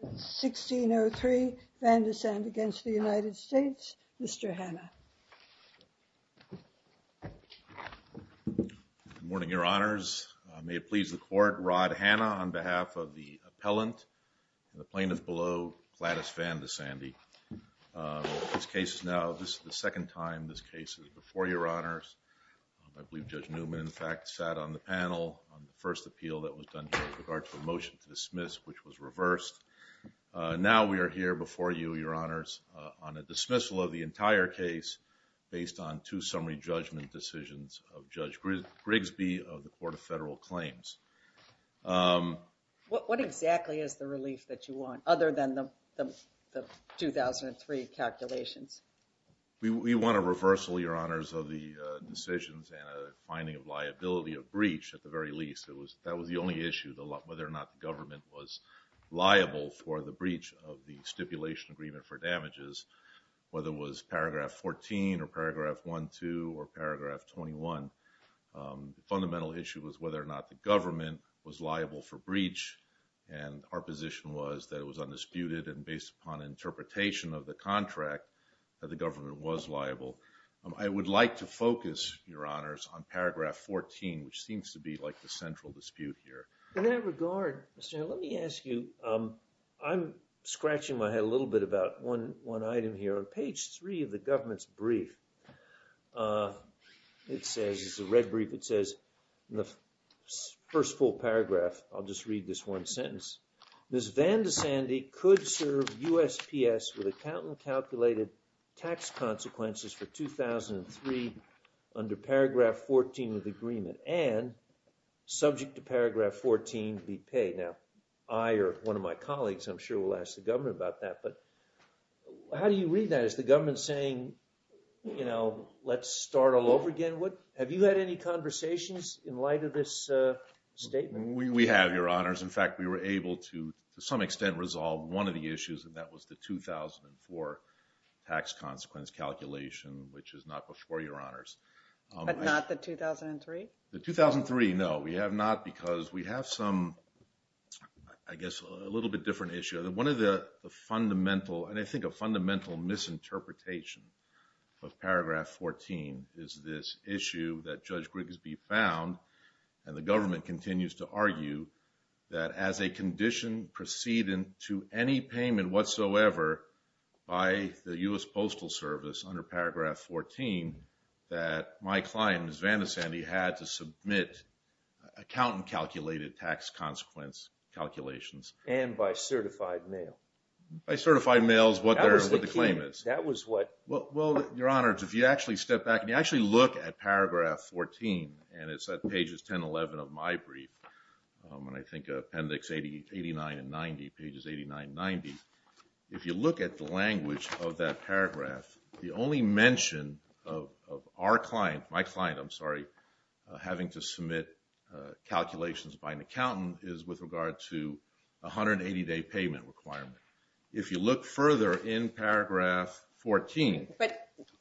1603, Vandesande v. United States, Mr. Hanna Good morning, Your Honors, may it please the Court, Rod Hanna on behalf of the appellant, the plaintiff below, Gladys Vandesande. This case is now, this is the second time this case is before Your Honors. I believe Judge Newman, in fact, sat on the panel on the first appeal that was done here with regard to the dismiss, which was reversed. Now we are here before you, Your Honors, on a dismissal of the entire case based on two summary judgment decisions of Judge Grigsby of the Court of Federal Claims. What exactly is the relief that you want, other than the 2003 calculations? We want a reversal, Your Honors, of the decisions and a finding of liability of breach at the very least. That was the only issue, whether or not the government was liable for the breach of the stipulation agreement for damages, whether it was paragraph 14 or paragraph 12 or paragraph 21. Fundamental issue was whether or not the government was liable for breach and our position was that it was undisputed and based upon interpretation of the contract that the government was liable. I would like to focus, Your Honors, on paragraph 14, which is the central dispute here. In that regard, Mr. Newman, let me ask you, I'm scratching my head a little bit about one item here. On page three of the government's brief, it says, it's a red brief, it says in the first full paragraph, I'll just read this one sentence, Ms. Vandisandi could serve USPS with account and calculated tax consequences for 2003 under paragraph 14 of the agreement and subject to paragraph 14 be paid. Now, I or one of my colleagues, I'm sure, will ask the government about that, but how do you read that? Is the government saying, you know, let's start all over again? Have you had any conversations in light of this statement? We have, Your Honors. In fact, we were able to, to some extent, resolve one of the issues and that was the 2004 tax consequence calculation, which is not before, Your Honors. But not the 2003? The 2003, no. We have not because we have some, I guess, a little bit different issue. One of the fundamental, and I think a fundamental misinterpretation of paragraph 14 is this issue that Judge Grigsby found, and the government continues to argue, that as a condition preceding to any payment whatsoever by the US Postal Service under paragraph 14, that my client, Ms. Vandisandi, had to submit account and calculated tax consequence calculations. And by certified mail. By certified mail is what the claim is. That was the key. That was what. Well, Your Honors, if you actually step back and you actually look at paragraph 14, and If you look at the language of that paragraph, the only mention of our client, my client, I'm sorry, having to submit calculations by an accountant is with regard to 180-day payment requirement. If you look further in paragraph 14. But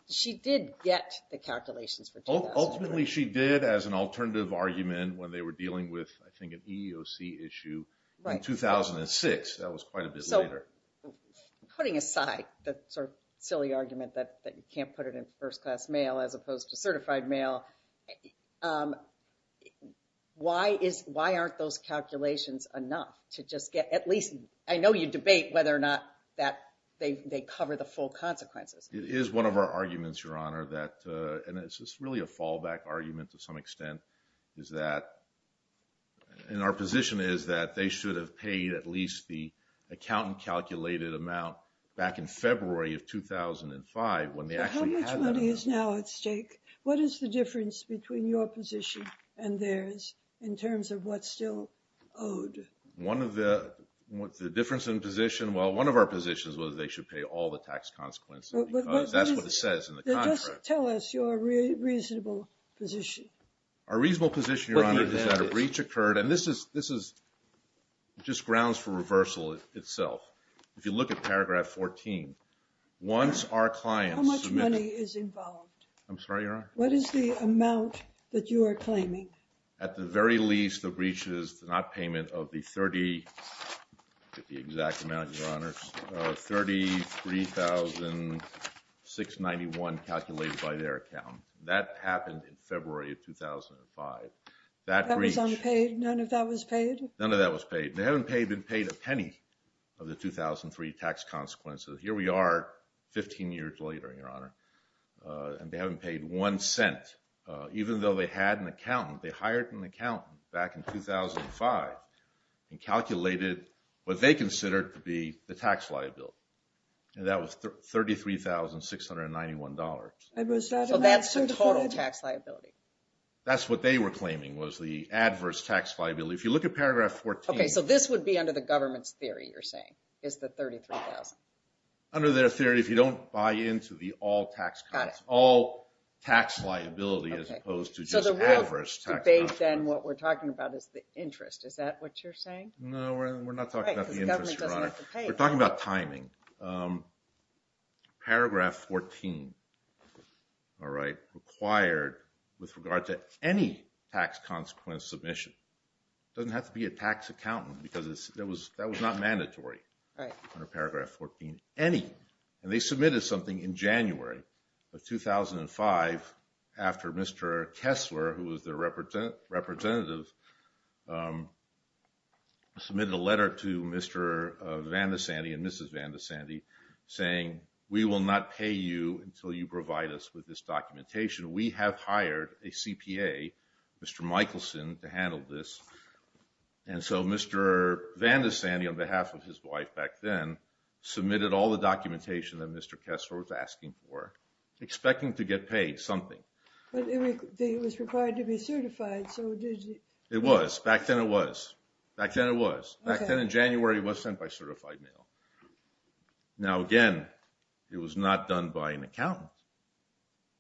she did get the calculations for 2004. Ultimately, she did as an alternative argument when they were dealing with, I think, an EEOC issue in 2006. Right. That was quite a bit later. So, putting aside the sort of silly argument that you can't put it in first-class mail as opposed to certified mail, why aren't those calculations enough to just get, at least, I know you debate whether or not they cover the full consequences. It is one of our arguments, Your Honor, that, and it's really a fallback argument to some that they should have paid at least the accountant-calculated amount back in February of 2005 when they actually had that amount. But how much money is now at stake? What is the difference between your position and theirs in terms of what's still owed? One of the, the difference in position, well, one of our positions was they should pay all the tax consequences because that's what it says in the contract. Then just tell us your reasonable position. Our reasonable position, Your Honor, is that a breach occurred, and this is, this is just grounds for reversal itself. If you look at paragraph 14, once our clients submit... How much money is involved? I'm sorry, Your Honor? What is the amount that you are claiming? At the very least, the breach is the not payment of the 30, the exact amount, Your Honor, 33,691 calculated by their account. That happened in February of 2005. That breach... That was unpaid? None of that was paid? None of that was paid. They haven't paid, been paid a penny of the 2003 tax consequences. Here we are 15 years later, Your Honor, and they haven't paid one cent. Even though they had an accountant, they hired an accountant back in 2005 and calculated what they considered to be the tax liability, and that was $33,691. So that's the total tax liability? That's what they were claiming was the adverse tax liability. If you look at paragraph 14... Okay, so this would be under the government's theory, you're saying, is the 33,000? Under their theory, if you don't buy into the all tax, all tax liability as opposed to just adverse tax liability. So the real debate then, what we're talking about is the interest, is that what you're saying? No, we're not talking about the interest, Your Honor. Right, because the government doesn't have to pay. We're talking about timing. Paragraph 14 required, with regard to any tax consequence submission, doesn't have to be a tax accountant because that was not mandatory under paragraph 14, any, and they submitted something in January of 2005 after Mr. Kessler, who was their representative, submitted a letter to Mr. Van de Sande saying, we will not pay you until you provide us with this documentation. We have hired a CPA, Mr. Michelson, to handle this. And so Mr. Van de Sande, on behalf of his wife back then, submitted all the documentation that Mr. Kessler was asking for, expecting to get paid something. But it was required to be certified, so did you... It was. Back then it was. Back then it was. Now, again, it was not done by an accountant.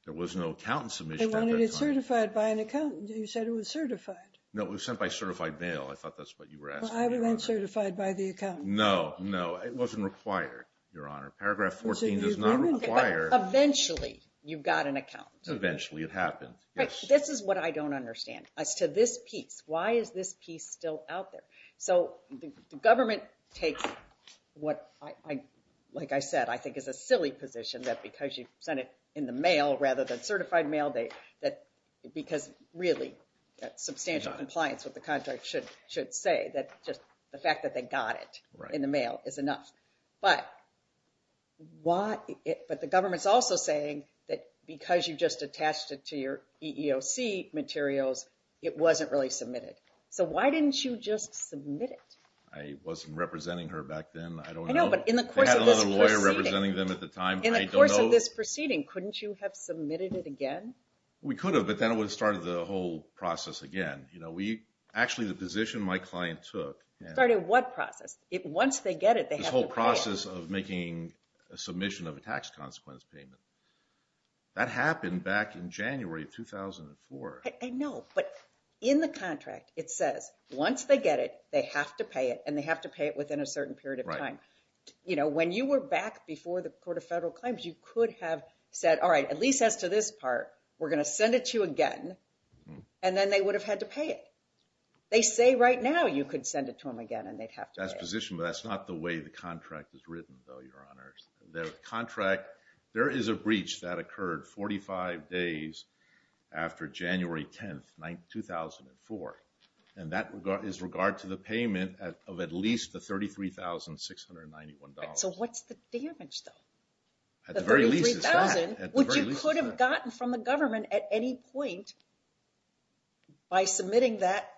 There was no accountant submission at that time. They wanted it certified by an accountant. You said it was certified. No, it was sent by certified mail. I thought that's what you were asking, Your Honor. Well, I would have been certified by the accountant. No, no, it wasn't required, Your Honor. Paragraph 14 does not require... Eventually, you got an accountant. Eventually, it happened, yes. Right, this is what I don't understand as to this piece. Why is this piece still out there? So the government takes what, like I said, I think is a silly position that because you sent it in the mail rather than certified mail, because really that's substantial compliance with the contract should say that just the fact that they got it in the mail is enough. But the government's also saying that because you just attached it to your EEOC materials, it wasn't really submitted. So why didn't you just submit it? I wasn't representing her back then. I don't know. I know, but in the course of this proceeding... I had another lawyer representing them at the time. In the course of this proceeding, couldn't you have submitted it again? We could have, but then it would have started the whole process again. Actually, the position my client took... Started what process? Once they get it, they have no problem. This whole process of making a submission of a tax consequence payment. That happened back in January of 2004. I know, but in the contract, it says once they get it, they have to pay it, and they have to pay it within a certain period of time. When you were back before the Court of Federal Claims, you could have said, all right, at least as to this part, we're going to send it to you again, and then they would have had to pay it. They say right now you could send it to them again and they'd have to pay it. That's the position, but that's not the way the contract is written, though, Your Honors. There is a breach that occurred 45 days after January 10th, 2004, and that is regard to the payment of at least the $33,691. So what's the damage, though? At the very least, it's that. The $33,000, which you could have gotten from the government at any point by submitting that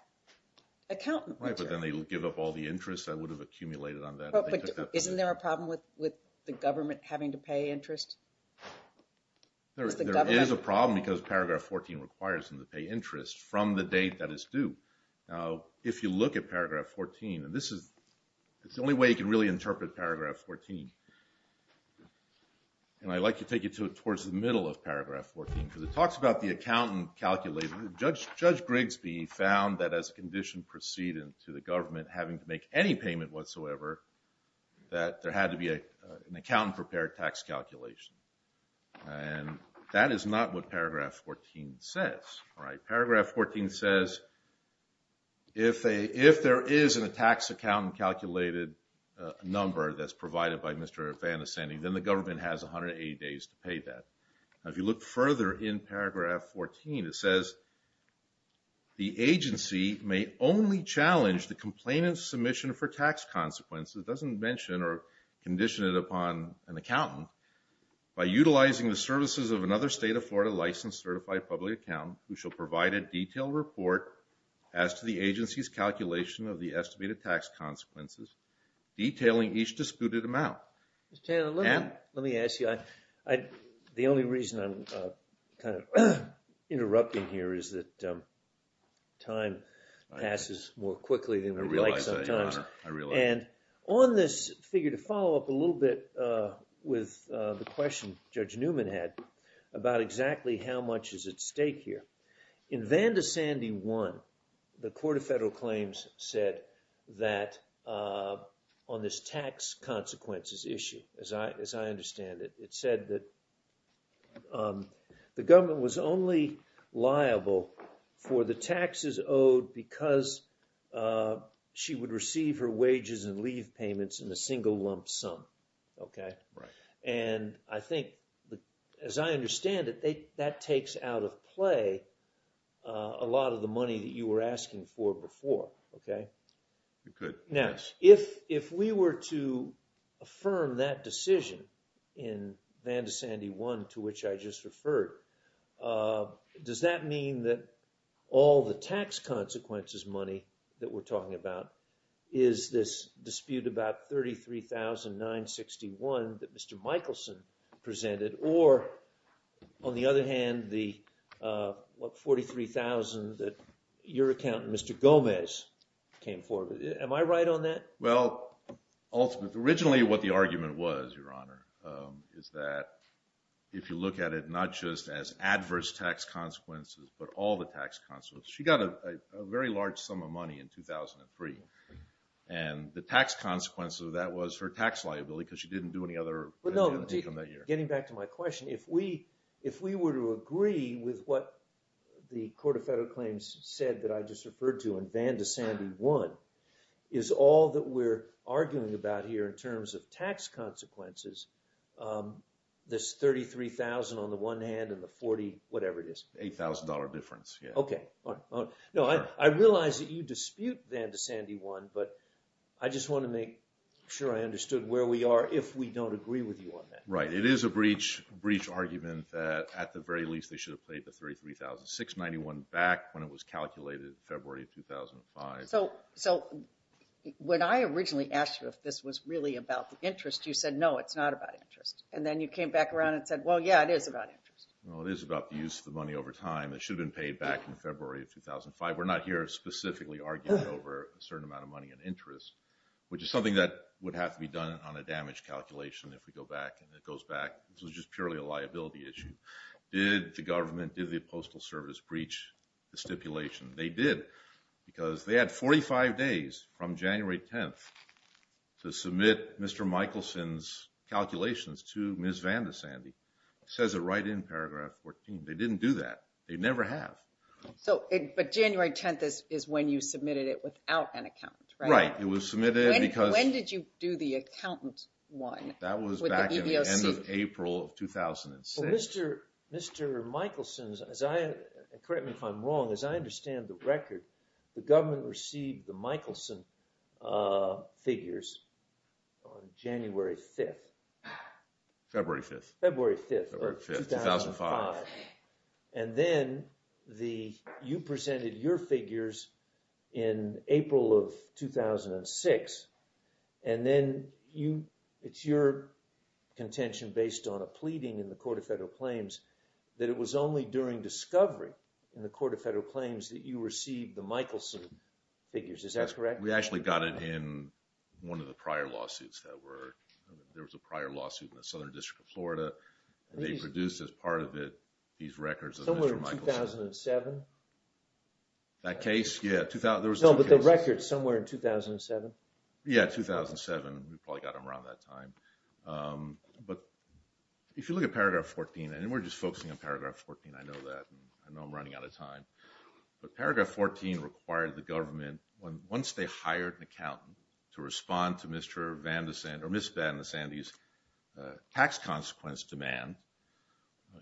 account. Right, but then they would give up all the interest that would have accumulated on that. Isn't there a problem with the government having to pay interest? There is a problem because Paragraph 14 requires them to pay interest from the date that it's due. Now, if you look at Paragraph 14, and this is the only way you can really interpret Paragraph 14, and I'd like to take you towards the middle of Paragraph 14, because it talks about the accountant calculating. having to make any payment whatsoever, that there had to be an accountant-prepared tax calculation. And that is not what Paragraph 14 says. Paragraph 14 says if there is a tax accountant-calculated number that's provided by Mr. Van Assenning, then the government has 180 days to pay that. If you look further in Paragraph 14, it says, the agency may only challenge the complainant's submission for tax consequences, it doesn't mention or condition it upon an accountant, by utilizing the services of another state-of-Florida licensed certified public accountant, who shall provide a detailed report as to the agency's calculation of the estimated tax consequences, detailing each disputed amount. Let me ask you, the only reason I'm kind of interrupting here is that time passes more quickly than we'd like sometimes. And on this figure, to follow up a little bit with the question Judge Newman had about exactly how much is at stake here, in Van de Sande 1, the Court of Federal Claims said that on this tax consequences issue, as I understand it, it said that the government was only liable for the taxes owed because she would receive her wages and leave payments in a single lump sum. And I think, as I understand it, that takes out of play a lot of the money that you were asking for before. Now, if we were to affirm that decision in Van de Sande 1, to which I just referred, does that mean that all the tax consequences money that we're talking about is this dispute about $33,961 that Mr. Michelson presented, or, on the other hand, the $43,000 that your accountant, Mr. Gomez, came forward with? Am I right on that? Well, ultimately what the argument was, Your Honor, is that if you look at it not just as adverse tax consequences, but all the tax consequences. She got a very large sum of money in 2003, and the tax consequences of that was her tax liability because she didn't do any other income that year. Getting back to my question, if we were to agree with what the Court of Federal Claims said that I just referred to in Van de Sande 1, is all that we're arguing about here in terms of tax consequences this $33,000 on the one hand and the $40,000, whatever it is? $8,000 difference, yes. Okay. No, I realize that you dispute Van de Sande 1, but I just want to make sure I understood where we are if we don't agree with you on that. Right. It is a breach argument that at the very least they should have paid the $33,691 back when it was calculated in February of 2005. So when I originally asked you if this was really about the interest, you said, no, it's not about interest. And then you came back around and said, well, yeah, it is about interest. Well, it is about the use of the money over time. It should have been paid back in February of 2005. We're not here specifically arguing over a certain amount of money in interest, which is something that would have to be done on a damage calculation if we go back and it goes back. This was just purely a liability issue. Did the government, did the Postal Service breach the stipulation? They did because they had 45 days from January 10th to submit Mr. Michelson's calculations to Ms. Van de Sande. It says it right in paragraph 14. They didn't do that. They never have. But January 10th is when you submitted it without an account, right? Right. When did you do the accountant one? That was back in the end of April of 2006. Mr. Michelson's, correct me if I'm wrong, as I understand the record, the government received the Michelson figures on January 5th. February 5th. February 5th of 2005. And then you presented your figures in April of 2006, and then it's your contention based on a pleading in the Court of Federal Claims that it was only during discovery in the Court of Federal Claims that you received the Michelson figures. Is that correct? We actually got it in one of the prior lawsuits that were... There was a prior lawsuit in the Southern District of Florida. They produced as part of it these records of Mr. Michelson. Somewhere in 2007? That case? Yeah. No, but the record's somewhere in 2007. Yeah, 2007. We probably got them around that time. But if you look at paragraph 14, and we're just focusing on paragraph 14. I know that. I know I'm running out of time. But paragraph 14 required the government, once they hired an accountant, to respond to Ms. Van de Sande's tax consequence demand,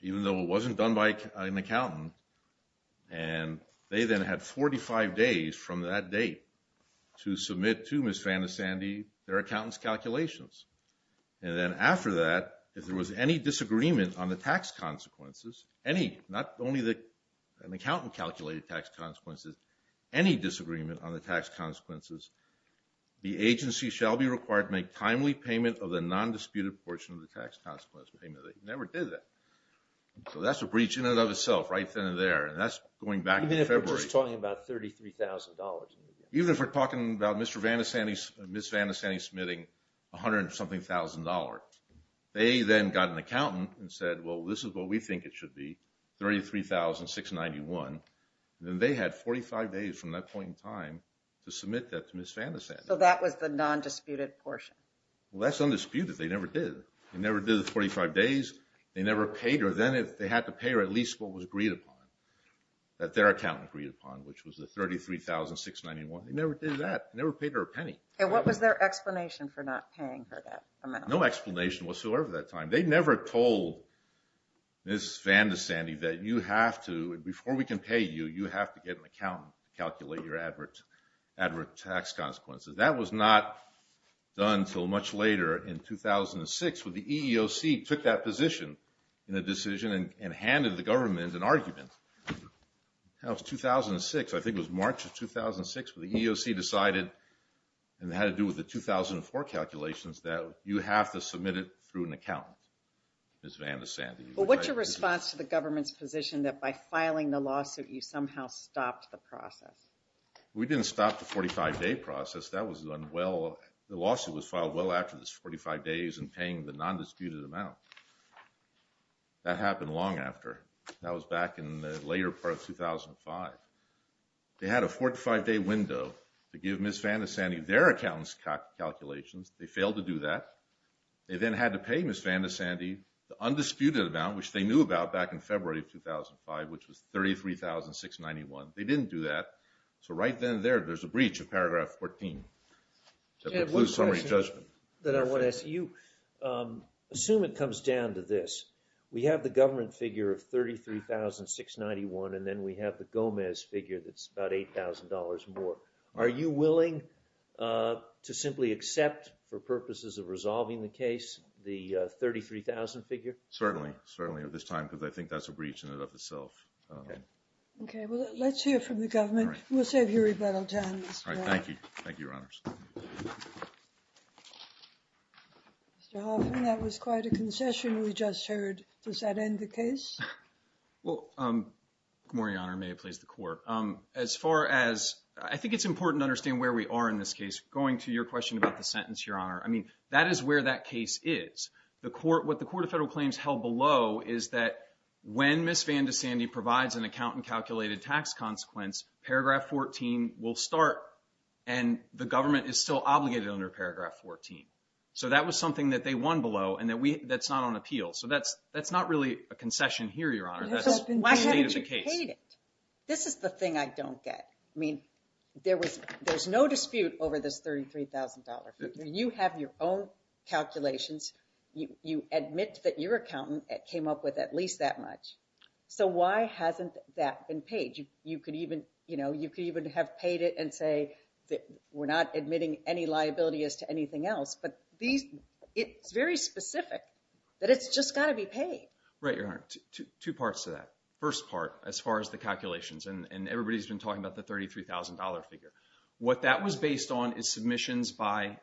even though it wasn't done by an accountant. And they then had 45 days from that date to submit to Ms. Van de Sande their accountant's calculations. And then after that, if there was any disagreement on the tax consequences, any, not only an accountant calculated tax consequences, any disagreement on the tax consequences, the agency shall be required to make timely payment of the nondisputed portion of the tax consequence payment. They never did that. So that's a breach in and of itself right then and there. And that's going back to February. Even if we're just talking about $33,000? Even if we're talking about Ms. Van de Sande submitting $100-something thousand. They then got an accountant and said, well, this is what we think it should be, $33,691. Then they had 45 days from that point in time to submit that to Ms. Van de Sande. So that was the nondisputed portion? Well, that's undisputed. They never did. They never did the 45 days. They never paid her. Then they had to pay her at least what was agreed upon, that their accountant agreed upon, which was the $33,691. They never did that. They never paid her a penny. And what was their explanation for not paying her that amount? No explanation whatsoever at that time. They never told Ms. Van de Sande that you have to, before we can pay you, you have to get an accountant to calculate your advert tax consequences. That was not done until much later in 2006 when the EEOC took that position in a decision and handed the government an argument. That was 2006. I think it was March of 2006 when the EEOC decided, and it had to do with the 2004 calculations, that you have to submit it through an accountant, Ms. Van de Sande. Well, what's your response to the government's position that by filing the lawsuit you somehow stopped the process? We didn't stop the 45-day process. That was done well. The lawsuit was filed well after those 45 days and paying the nondisputed amount. That happened long after. That was back in the later part of 2005. They had a 45-day window to give Ms. Van de Sande their accountant's calculations. They failed to do that. They then had to pay Ms. Van de Sande the undisputed amount, which they knew about back in February of 2005, which was $33,691. They didn't do that. So right then and there, there's a breach of Paragraph 14 that precludes summary judgment. I have one question that I want to ask you. Assume it comes down to this. We have the government figure of $33,691, and then we have the Gomez figure that's about $8,000 more. Are you willing to simply accept, for purposes of resolving the case, the $33,000 figure? Certainly. Certainly, at this time, because I think that's a breach in and of itself. Okay. Well, let's hear from the government. We'll save your rebuttal time, Mr. Hoffman. Thank you. Thank you, Your Honors. Mr. Hoffman, that was quite a concession we just heard. Does that end the case? Well, Your Honor, may it please the Court, as far as I think it's important to understand where we are in this case, going to your question about the sentence, Your Honor. I mean, that is where that case is. What the Court of Federal Claims held below is that when Ms. Van DeSandy provides an account and calculated tax consequence, Paragraph 14 will start, and the government is still obligated under Paragraph 14. So that was something that they won below, and that's not on appeal. So that's not really a concession here, Your Honor. Why haven't you paid it? This is the thing I don't get. I mean, there's no dispute over this $33,000 figure. You have your own calculations. You admit that your accountant came up with at least that much. So why hasn't that been paid? You could even have paid it and say that we're not admitting any liability as to anything else. But it's very specific that it's just got to be paid. Right, Your Honor. Two parts to that. First part, as far as the calculations, and everybody's been talking about the $33,000 figure. What that was based on is submissions by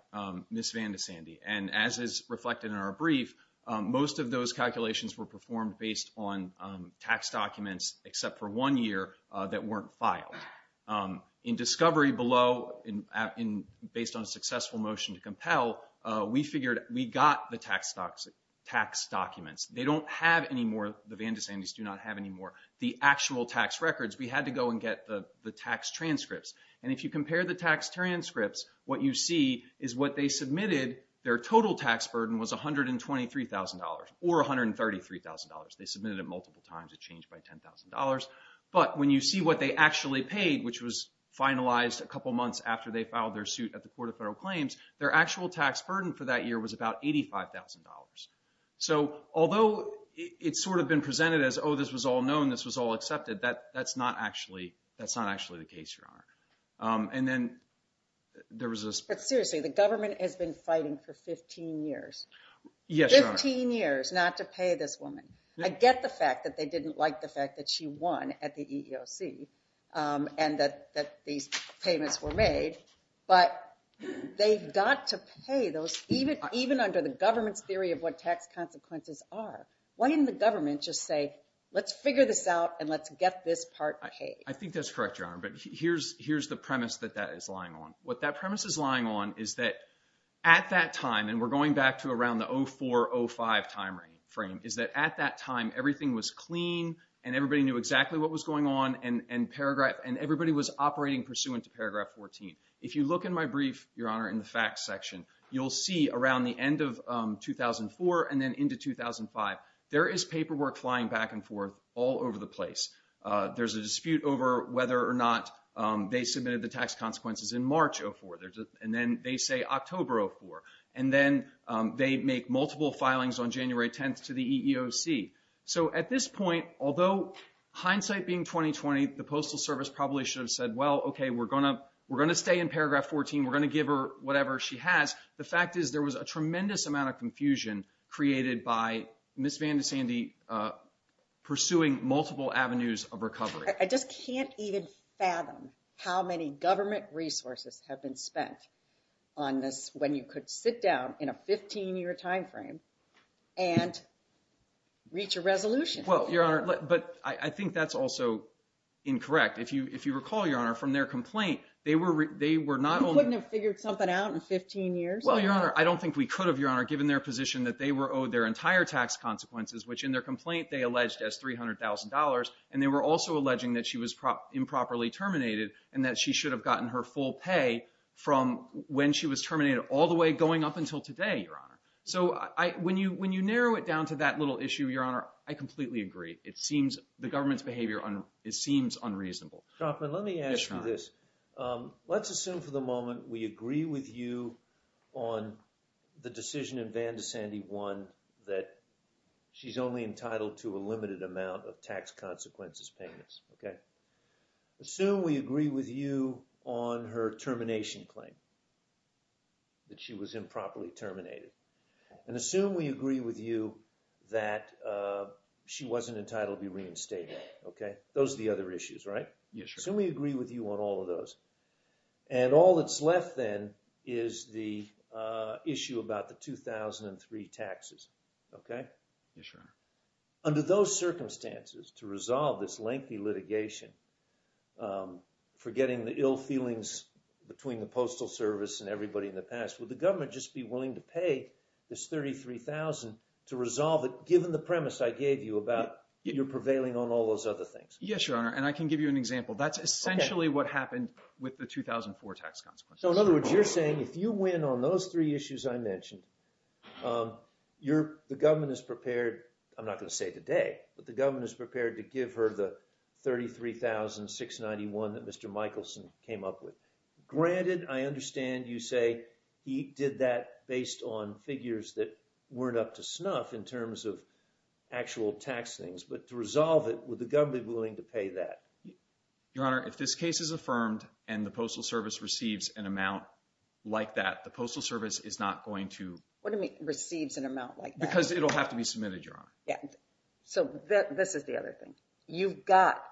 Ms. Van DeSandy, and as is reflected in our brief, most of those calculations were performed based on tax documents except for one year that weren't filed. In discovery below, based on a successful motion to compel, we figured we got the tax documents. They don't have any more. The Van DeSandys do not have any more. The actual tax records, we had to go and get the tax transcripts. And if you compare the tax transcripts, what you see is what they submitted, their total tax burden was $123,000 or $133,000. They submitted it multiple times. It changed by $10,000. But when you see what they actually paid, which was finalized a couple months after they filed their suit at the Court of Federal Claims, their actual tax burden for that year was about $85,000. So although it's sort of been presented as, oh, this was all known, this was all accepted, that's not actually the case, Your Honor. But seriously, the government has been fighting for 15 years. Yes, Your Honor. 15 years not to pay this woman. I get the fact that they didn't like the fact that she won at the EEOC and that these payments were made, but they've got to pay those, even under the government's theory of what tax consequences are. Why didn't the government just say, let's figure this out and let's get this part paid? I think that's correct, Your Honor. But here's the premise that that is lying on. What that premise is lying on is that at that time, and we're going back to around the 04-05 timeframe, is that at that time, everything was clean and everybody knew exactly what was going on, and everybody was operating pursuant to paragraph 14. If you look in my brief, Your Honor, in the facts section, you'll see around the end of 2004 and then into 2005, there is paperwork flying back and forth all over the place. There's a dispute over whether or not they submitted the tax consequences in March 04, and then they say October 04, and then they make multiple filings on January 10th to the EEOC. So at this point, although hindsight being 20-20, the Postal Service probably should have said, well, okay, we're going to stay in paragraph 14. We're going to give her whatever she has. The fact is there was a tremendous amount of confusion created by Ms. Van de Sande pursuing multiple avenues of recovery. I just can't even fathom how many government resources have been spent on this when you could sit down in a 15-year timeframe and reach a resolution. Well, Your Honor, but I think that's also incorrect. If you recall, Your Honor, from their complaint, they were not only— You couldn't have figured something out in 15 years? Well, Your Honor, I don't think we could have, Your Honor, given their position that they were owed their entire tax consequences, which in their complaint they alleged as $300,000, and they were also alleging that she was improperly terminated and that she should have gotten her full pay from when she was terminated all the way going up until today, Your Honor. So when you narrow it down to that little issue, Your Honor, I completely agree. The government's behavior seems unreasonable. Let me ask you this. Let's assume for the moment we agree with you on the decision in Van de Sande 1 that she's only entitled to a limited amount of tax consequences payments. Assume we agree with you on her termination claim that she was improperly terminated. And assume we agree with you that she wasn't entitled to be reinstated. Okay? Those are the other issues, right? Yes, Your Honor. Assume we agree with you on all of those. And all that's left then is the issue about the 2003 taxes. Okay? Yes, Your Honor. Under those circumstances, to resolve this lengthy litigation for getting the ill feelings between the Postal Service and everybody in the past, would the government just be willing to pay this $33,000 to resolve it given the premise I gave you about your prevailing on all those other things? Yes, Your Honor. And I can give you an example. That's essentially what happened with the 2004 tax consequences. So in other words, you're saying if you win on those three issues I mentioned, the government is prepared. I'm not going to say today, but the government is prepared to give her the $33,691 that Mr. Michelson came up with. Granted, I understand you say he did that based on figures that weren't up to snuff in terms of actual tax things. But to resolve it, would the government be willing to pay that? Your Honor, if this case is affirmed and the Postal Service receives an amount like that, the Postal Service is not going to… What do you mean receives an amount like that? Because it'll have to be submitted, Your Honor. So this is the other thing. You've got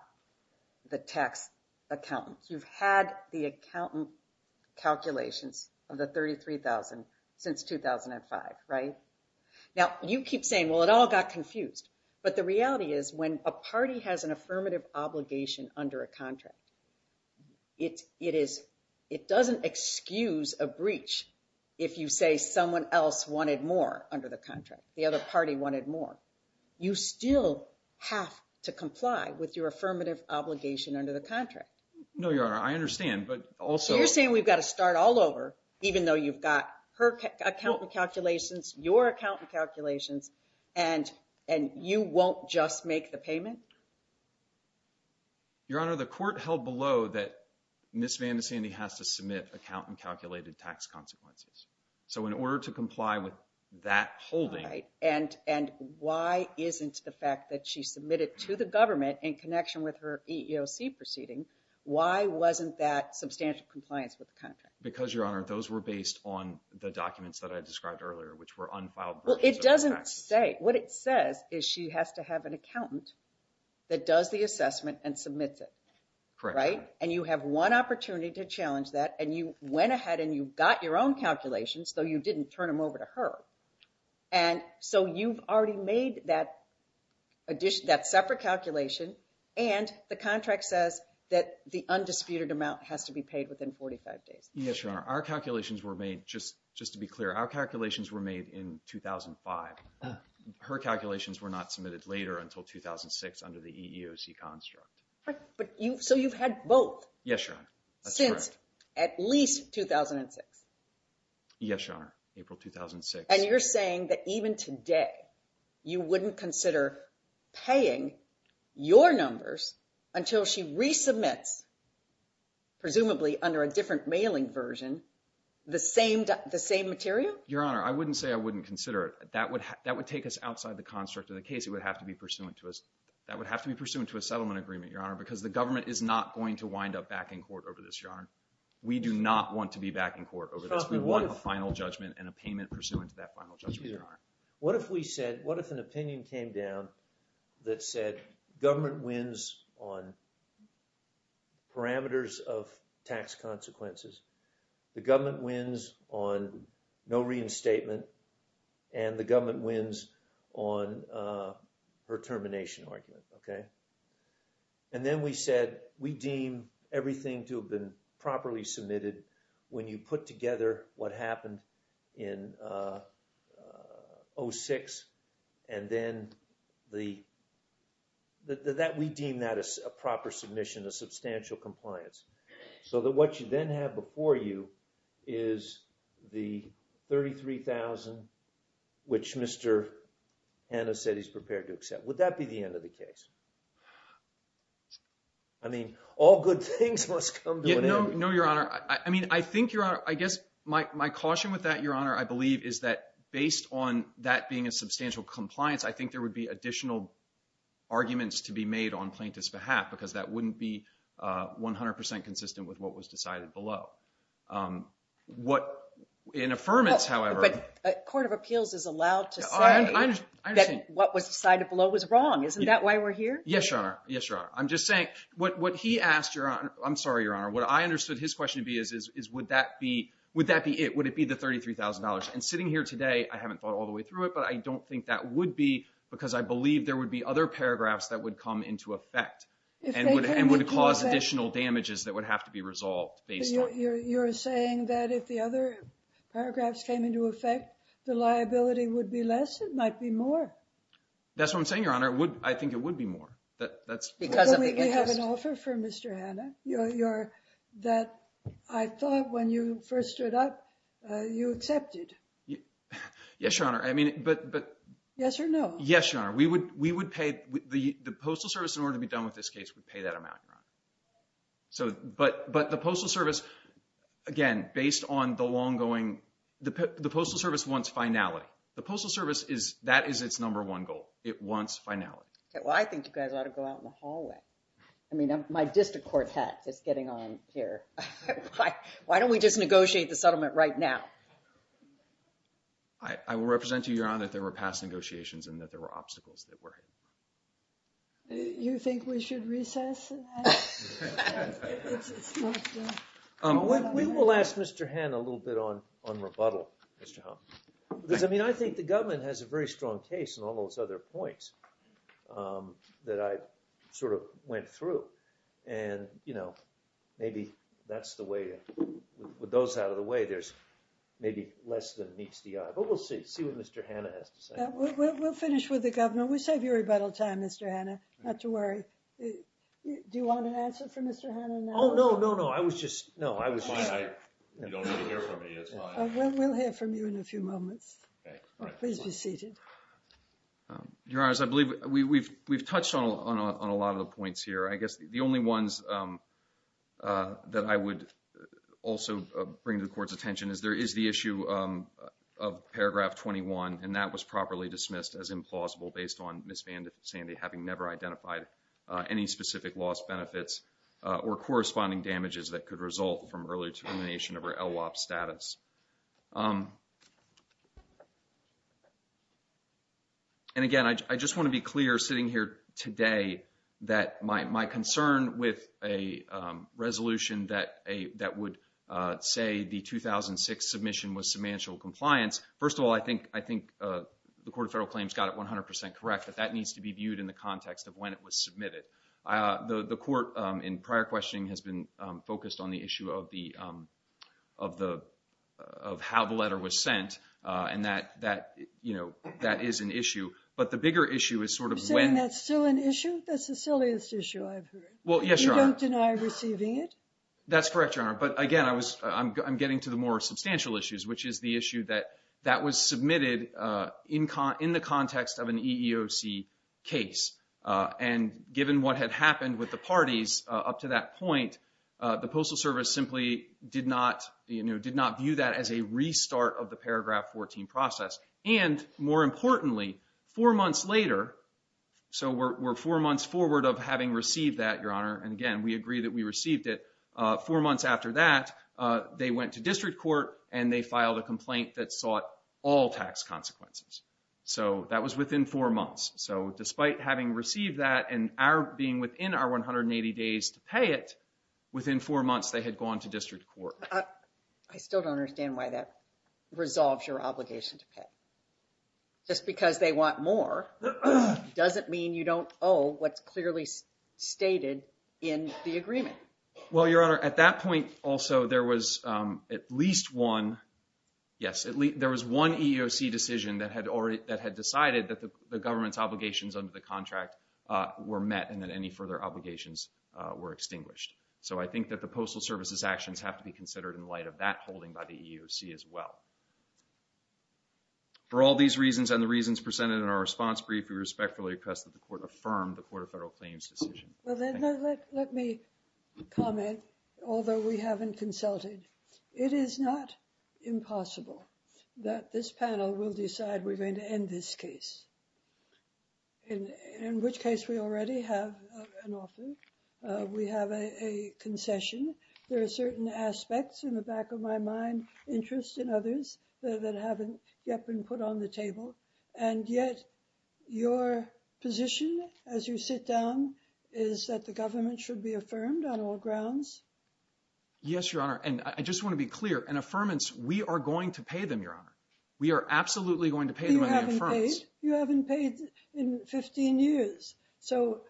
the tax accountant. You've had the accountant calculations of the $33,000 since 2005, right? Now, you keep saying, well, it all got confused. But the reality is when a party has an affirmative obligation under a contract, it doesn't excuse a breach if you say someone else wanted more under the contract. The other party wanted more. You still have to comply with your affirmative obligation under the contract. No, Your Honor. I understand, but also… So you're saying we've got to start all over, even though you've got her accountant calculations, your accountant calculations, and you won't just make the payment? Your Honor, the court held below that Ms. Vandisandy has to submit accountant-calculated tax consequences. So in order to comply with that holding… Right, and why isn't the fact that she submitted to the government in connection with her EEOC proceeding, why wasn't that substantial compliance with the contract? Because, Your Honor, those were based on the documents that I described earlier, which were unfiled… Well, it doesn't say. What it says is she has to have an accountant that does the assessment and submits it. Correct. Right? And you have one opportunity to challenge that, and you went ahead and you got your own calculations, though you didn't turn them over to her. And so you've already made that separate calculation, and the contract says that the undisputed amount has to be paid within 45 days. Yes, Your Honor. Our calculations were made, just to be clear, our calculations were made in 2005. Her calculations were not submitted later until 2006 under the EEOC construct. So you've had both? Yes, Your Honor. That's correct. At least 2006? Yes, Your Honor. April 2006. And you're saying that even today you wouldn't consider paying your numbers until she resubmits, presumably under a different mailing version, the same material? Your Honor, I wouldn't say I wouldn't consider it. That would take us outside the construct of the case. It would have to be pursuant to a settlement agreement, Your Honor, because the government is not going to wind up back in court over this, Your Honor. We do not want to be back in court over this. We want a final judgment and a payment pursuant to that final judgment, Your Honor. What if we said, what if an opinion came down that said, government wins on parameters of tax consequences, the government wins on no reinstatement, and the government wins on her termination argument, okay? And then we said, we deem everything to have been properly submitted when you put together what happened in 2006, and then we deem that a proper submission, a substantial compliance, so that what you then have before you is the $33,000, which Mr. Hanna said he's prepared to accept. Would that be the end of the case? I mean, all good things must come to an end. No, Your Honor. I mean, I think, Your Honor, I guess my caution with that, Your Honor, I believe is that based on that being a substantial compliance, I think there would be additional arguments to be made on plaintiff's behalf because that wouldn't be 100% consistent with what was decided below. In affirmance, however— The Court of Appeals is allowed to say that what was decided below was wrong. Isn't that why we're here? Yes, Your Honor. Yes, Your Honor. I'm just saying, what he asked, I'm sorry, Your Honor, what I understood his question to be is would that be it? Would it be the $33,000? And sitting here today, I haven't thought all the way through it, but I don't think that would be because I believe there would be other paragraphs that would come into effect and would cause additional damages that would have to be resolved based on— You're saying that if the other paragraphs came into effect, the liability would be less? It might be more. That's what I'm saying, Your Honor. I think it would be more. Because of the interest. You have an offer for Mr. Hanna that I thought when you first stood up, you accepted. Yes, Your Honor. Yes or no? Yes, Your Honor. We would pay—the Postal Service, in order to be done with this case, would pay that amount, Your Honor. But the Postal Service, again, based on the long-going— the Postal Service wants finality. The Postal Service is—that is its number one goal. It wants finality. Well, I think you guys ought to go out in the hallway. I mean, my district quartet is getting on here. Why don't we just negotiate the settlement right now? I will represent to you, Your Honor, that there were past negotiations and that there were obstacles that were— You think we should recess? We will ask Mr. Hanna a little bit on rebuttal, Mr. Holmes. Because, I mean, I think the government has a very strong case in all those other points that I sort of went through. And, you know, maybe that's the way—with those out of the way, there's maybe less than meets the eye. But we'll see. See what Mr. Hanna has to say. We'll finish with the government. We'll save you rebuttal time, Mr. Hanna. Not to worry. Do you want an answer from Mr. Hanna now? Oh, no, no, no. I was just—no, I was just— It's fine. You don't need to hear from me. It's fine. We'll hear from you in a few moments. Please be seated. Your Honors, I believe we've touched on a lot of the points here. I guess the only ones that I would also bring to the Court's attention is there is the issue of paragraph 21, and that was properly dismissed as implausible based on Ms. Van Sandy having never identified any specific loss benefits or corresponding damages that could result from early termination of her LWOP status. And, again, I just want to be clear, sitting here today, that my concern with a resolution that would say the 2006 submission was submantial compliance. First of all, I think the Court of Federal Claims got it 100% correct, that that needs to be viewed in the context of when it was submitted. The Court, in prior questioning, has been focused on the issue of how the letter was sent, and that is an issue. But the bigger issue is sort of when— You're saying that's still an issue? That's the silliest issue I've heard. Well, yes, Your Honor. You don't deny receiving it? That's correct, Your Honor. But, again, I'm getting to the more substantial issues, which is the issue that that was submitted in the context of an EEOC case. And given what had happened with the parties up to that point, the Postal Service simply did not view that as a restart of the paragraph 14 process. And, more importantly, four months later, and, again, we agree that we received it. Four months after that, they went to district court and they filed a complaint that sought all tax consequences. So that was within four months. So despite having received that and our being within our 180 days to pay it, within four months they had gone to district court. I still don't understand why that resolves your obligation to pay. Just because they want more doesn't mean you don't owe what's clearly stated in the agreement. Well, Your Honor, at that point also there was at least one EEOC decision that had decided that the government's obligations under the contract were met and that any further obligations were extinguished. So I think that the Postal Service's actions have to be considered in light of that holding by the EEOC as well. For all these reasons and the reasons presented in our response brief, we respectfully request that the Court affirm the Court of Federal Claims decision. Well, then let me comment, although we haven't consulted. It is not impossible that this panel will decide we're going to end this case, in which case we already have an offer. We have a concession. There are certain aspects, in the back of my mind, interest in others that haven't yet been put on the table, and yet your position, as you sit down, is that the government should be affirmed on all grounds? Yes, Your Honor, and I just want to be clear. And affirmance, we are going to pay them, Your Honor. We are absolutely going to pay them an affirmance. You haven't paid in 15 years. So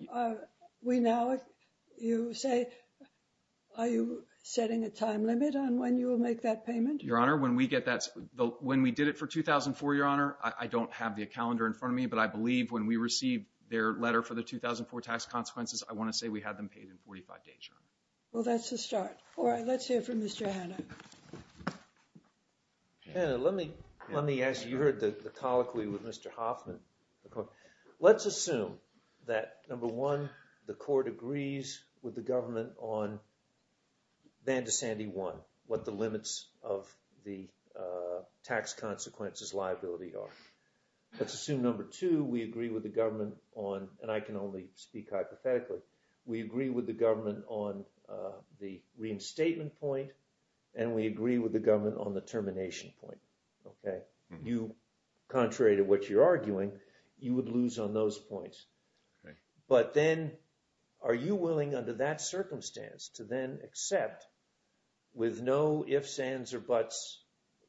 we now, you say, are you setting a time limit on when you will make that payment? Your Honor, when we did it for 2004, Your Honor, I don't have the calendar in front of me, but I believe when we received their letter for the 2004 tax consequences, I want to say we had them paid in 45 days, Your Honor. Well, that's a start. All right, let's hear from Mr. Hanna. Hanna, let me ask you. You heard the colloquy with Mr. Hoffman. Let's assume that, number one, the Court agrees with the government on Van de Sande 1, what the limits of the tax consequences liability are. Let's assume, number two, we agree with the government on, and I can only speak hypothetically, we agree with the government on the reinstatement point, and we agree with the government on the termination point. Okay? You, contrary to what you're arguing, you would lose on those points. Okay. But then are you willing, under that circumstance, to then accept with no ifs, ands, or buts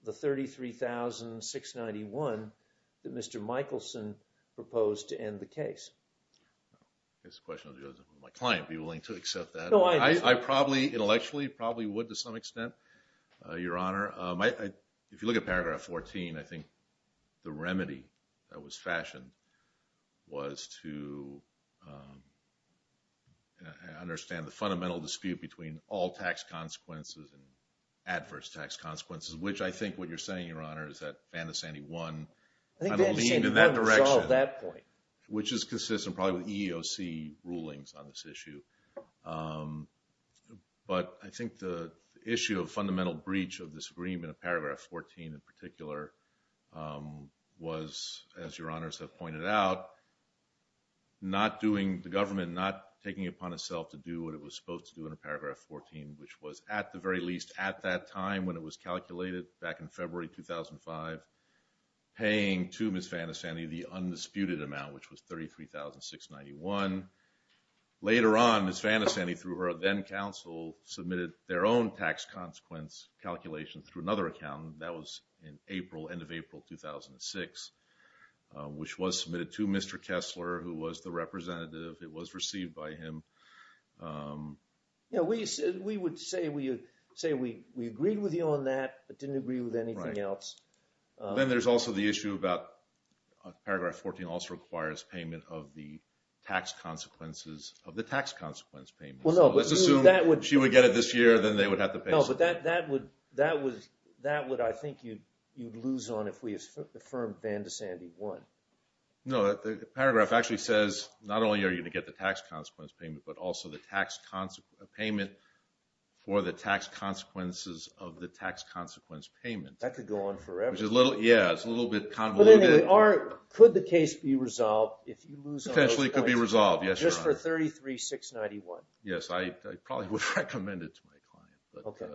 the 33,691 that Mr. Michelson proposed to end the case? That's a question of whether my client would be willing to accept that. I probably, intellectually, probably would to some extent, Your Honor. If you look at paragraph 14, I think the remedy that was fashioned was to understand the fundamental dispute between all tax consequences and adverse tax consequences, which I think what you're saying, Your Honor, is that Van de Sande 1 I think Van de Sande 1 was all that point. Which is consistent probably with EEOC rulings on this issue. But I think the issue of fundamental breach of this agreement, in paragraph 14 in particular, was, as Your Honors have pointed out, not doing, the government not taking it upon itself to do what it was supposed to do in paragraph 14, which was, at the very least, at that time when it was calculated, back in February 2005, paying to Ms. Van de Sande the undisputed amount, which was 33,691. Later on, Ms. Van de Sande, through her then-counsel, submitted their own tax consequence calculation through another accountant. That was in April, end of April 2006, which was submitted to Mr. Kessler, who was the representative. It was received by him. Yeah, we would say we agreed with you on that, but didn't agree with anything else. Then there's also the issue about, paragraph 14 also requires payment of the tax consequences, of the tax consequence payment. Let's assume she would get it this year, then they would have to pay something. No, but that would, I think, you'd lose on if we affirmed Van de Sande won. No, the paragraph actually says, not only are you going to get the tax consequence payment, but also the tax consequence payment for the tax consequences of the tax consequence payment. That could go on forever. Yeah, it's a little bit convoluted. Could the case be resolved if you lose on those points? Potentially it could be resolved, yes, Your Honor. Just for 33,691? Yes, I probably would recommend it to my client. Okay.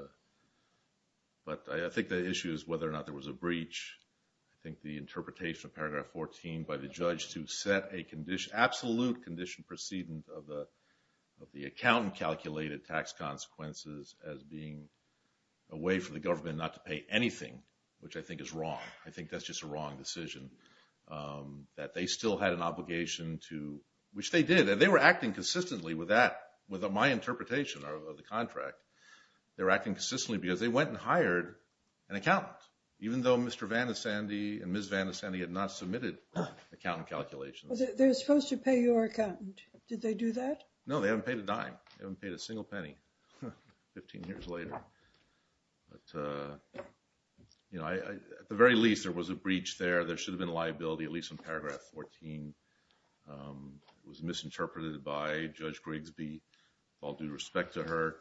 But I think the issue is whether or not there was a breach. I think the interpretation of paragraph 14 by the judge to set a condition, absolute condition precedent of the accountant calculated tax consequences as being a way for the government not to pay anything, which I think is wrong. I think that's just a wrong decision. That they still had an obligation to, which they did, they were acting consistently with my interpretation of the contract. They were acting consistently because they went and hired an accountant, even though Mr. Van de Sande and Ms. Van de Sande had not submitted accountant calculations. They were supposed to pay your accountant. Did they do that? No, they haven't paid a dime. They haven't paid a single penny 15 years later. At the very least, there was a breach there. There should have been a liability, at least in paragraph 14. It was misinterpreted by Judge Grigsby, all due respect to her.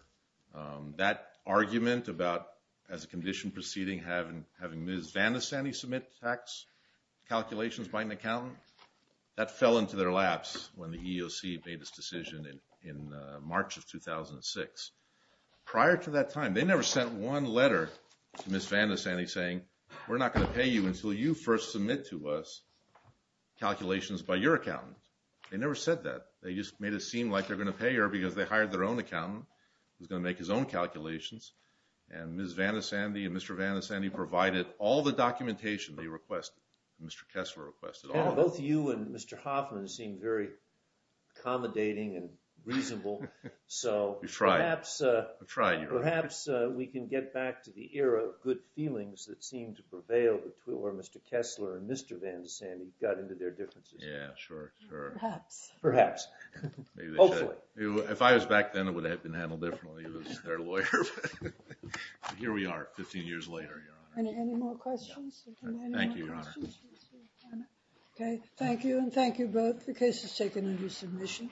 That argument about as a condition preceding having Ms. Van de Sande submit tax calculations by an accountant, that fell into their laps when the EEOC made this decision in March of 2006. Prior to that time, they never sent one letter to Ms. Van de Sande saying, we're not going to pay you until you first submit to us calculations by your accountant. They never said that. They just made it seem like they're going to pay her because they hired their own accountant who was going to make his own calculations. And Ms. Van de Sande and Mr. Van de Sande provided all the documentation they requested. Mr. Kessler requested all of it. Both you and Mr. Hoffman seem very accommodating and reasonable. You tried. I tried. Perhaps we can get back to the era of good feelings that seemed to prevail where Mr. Kessler and Mr. Van de Sande got into their differences. Yeah, sure, sure. Perhaps. Perhaps. Hopefully. If I was back then, it would have been handled differently. It was their lawyer. Here we are 15 years later, Your Honor. Any more questions? Thank you, Your Honor. OK. Thank you, and thank you both. The case is taken into submission.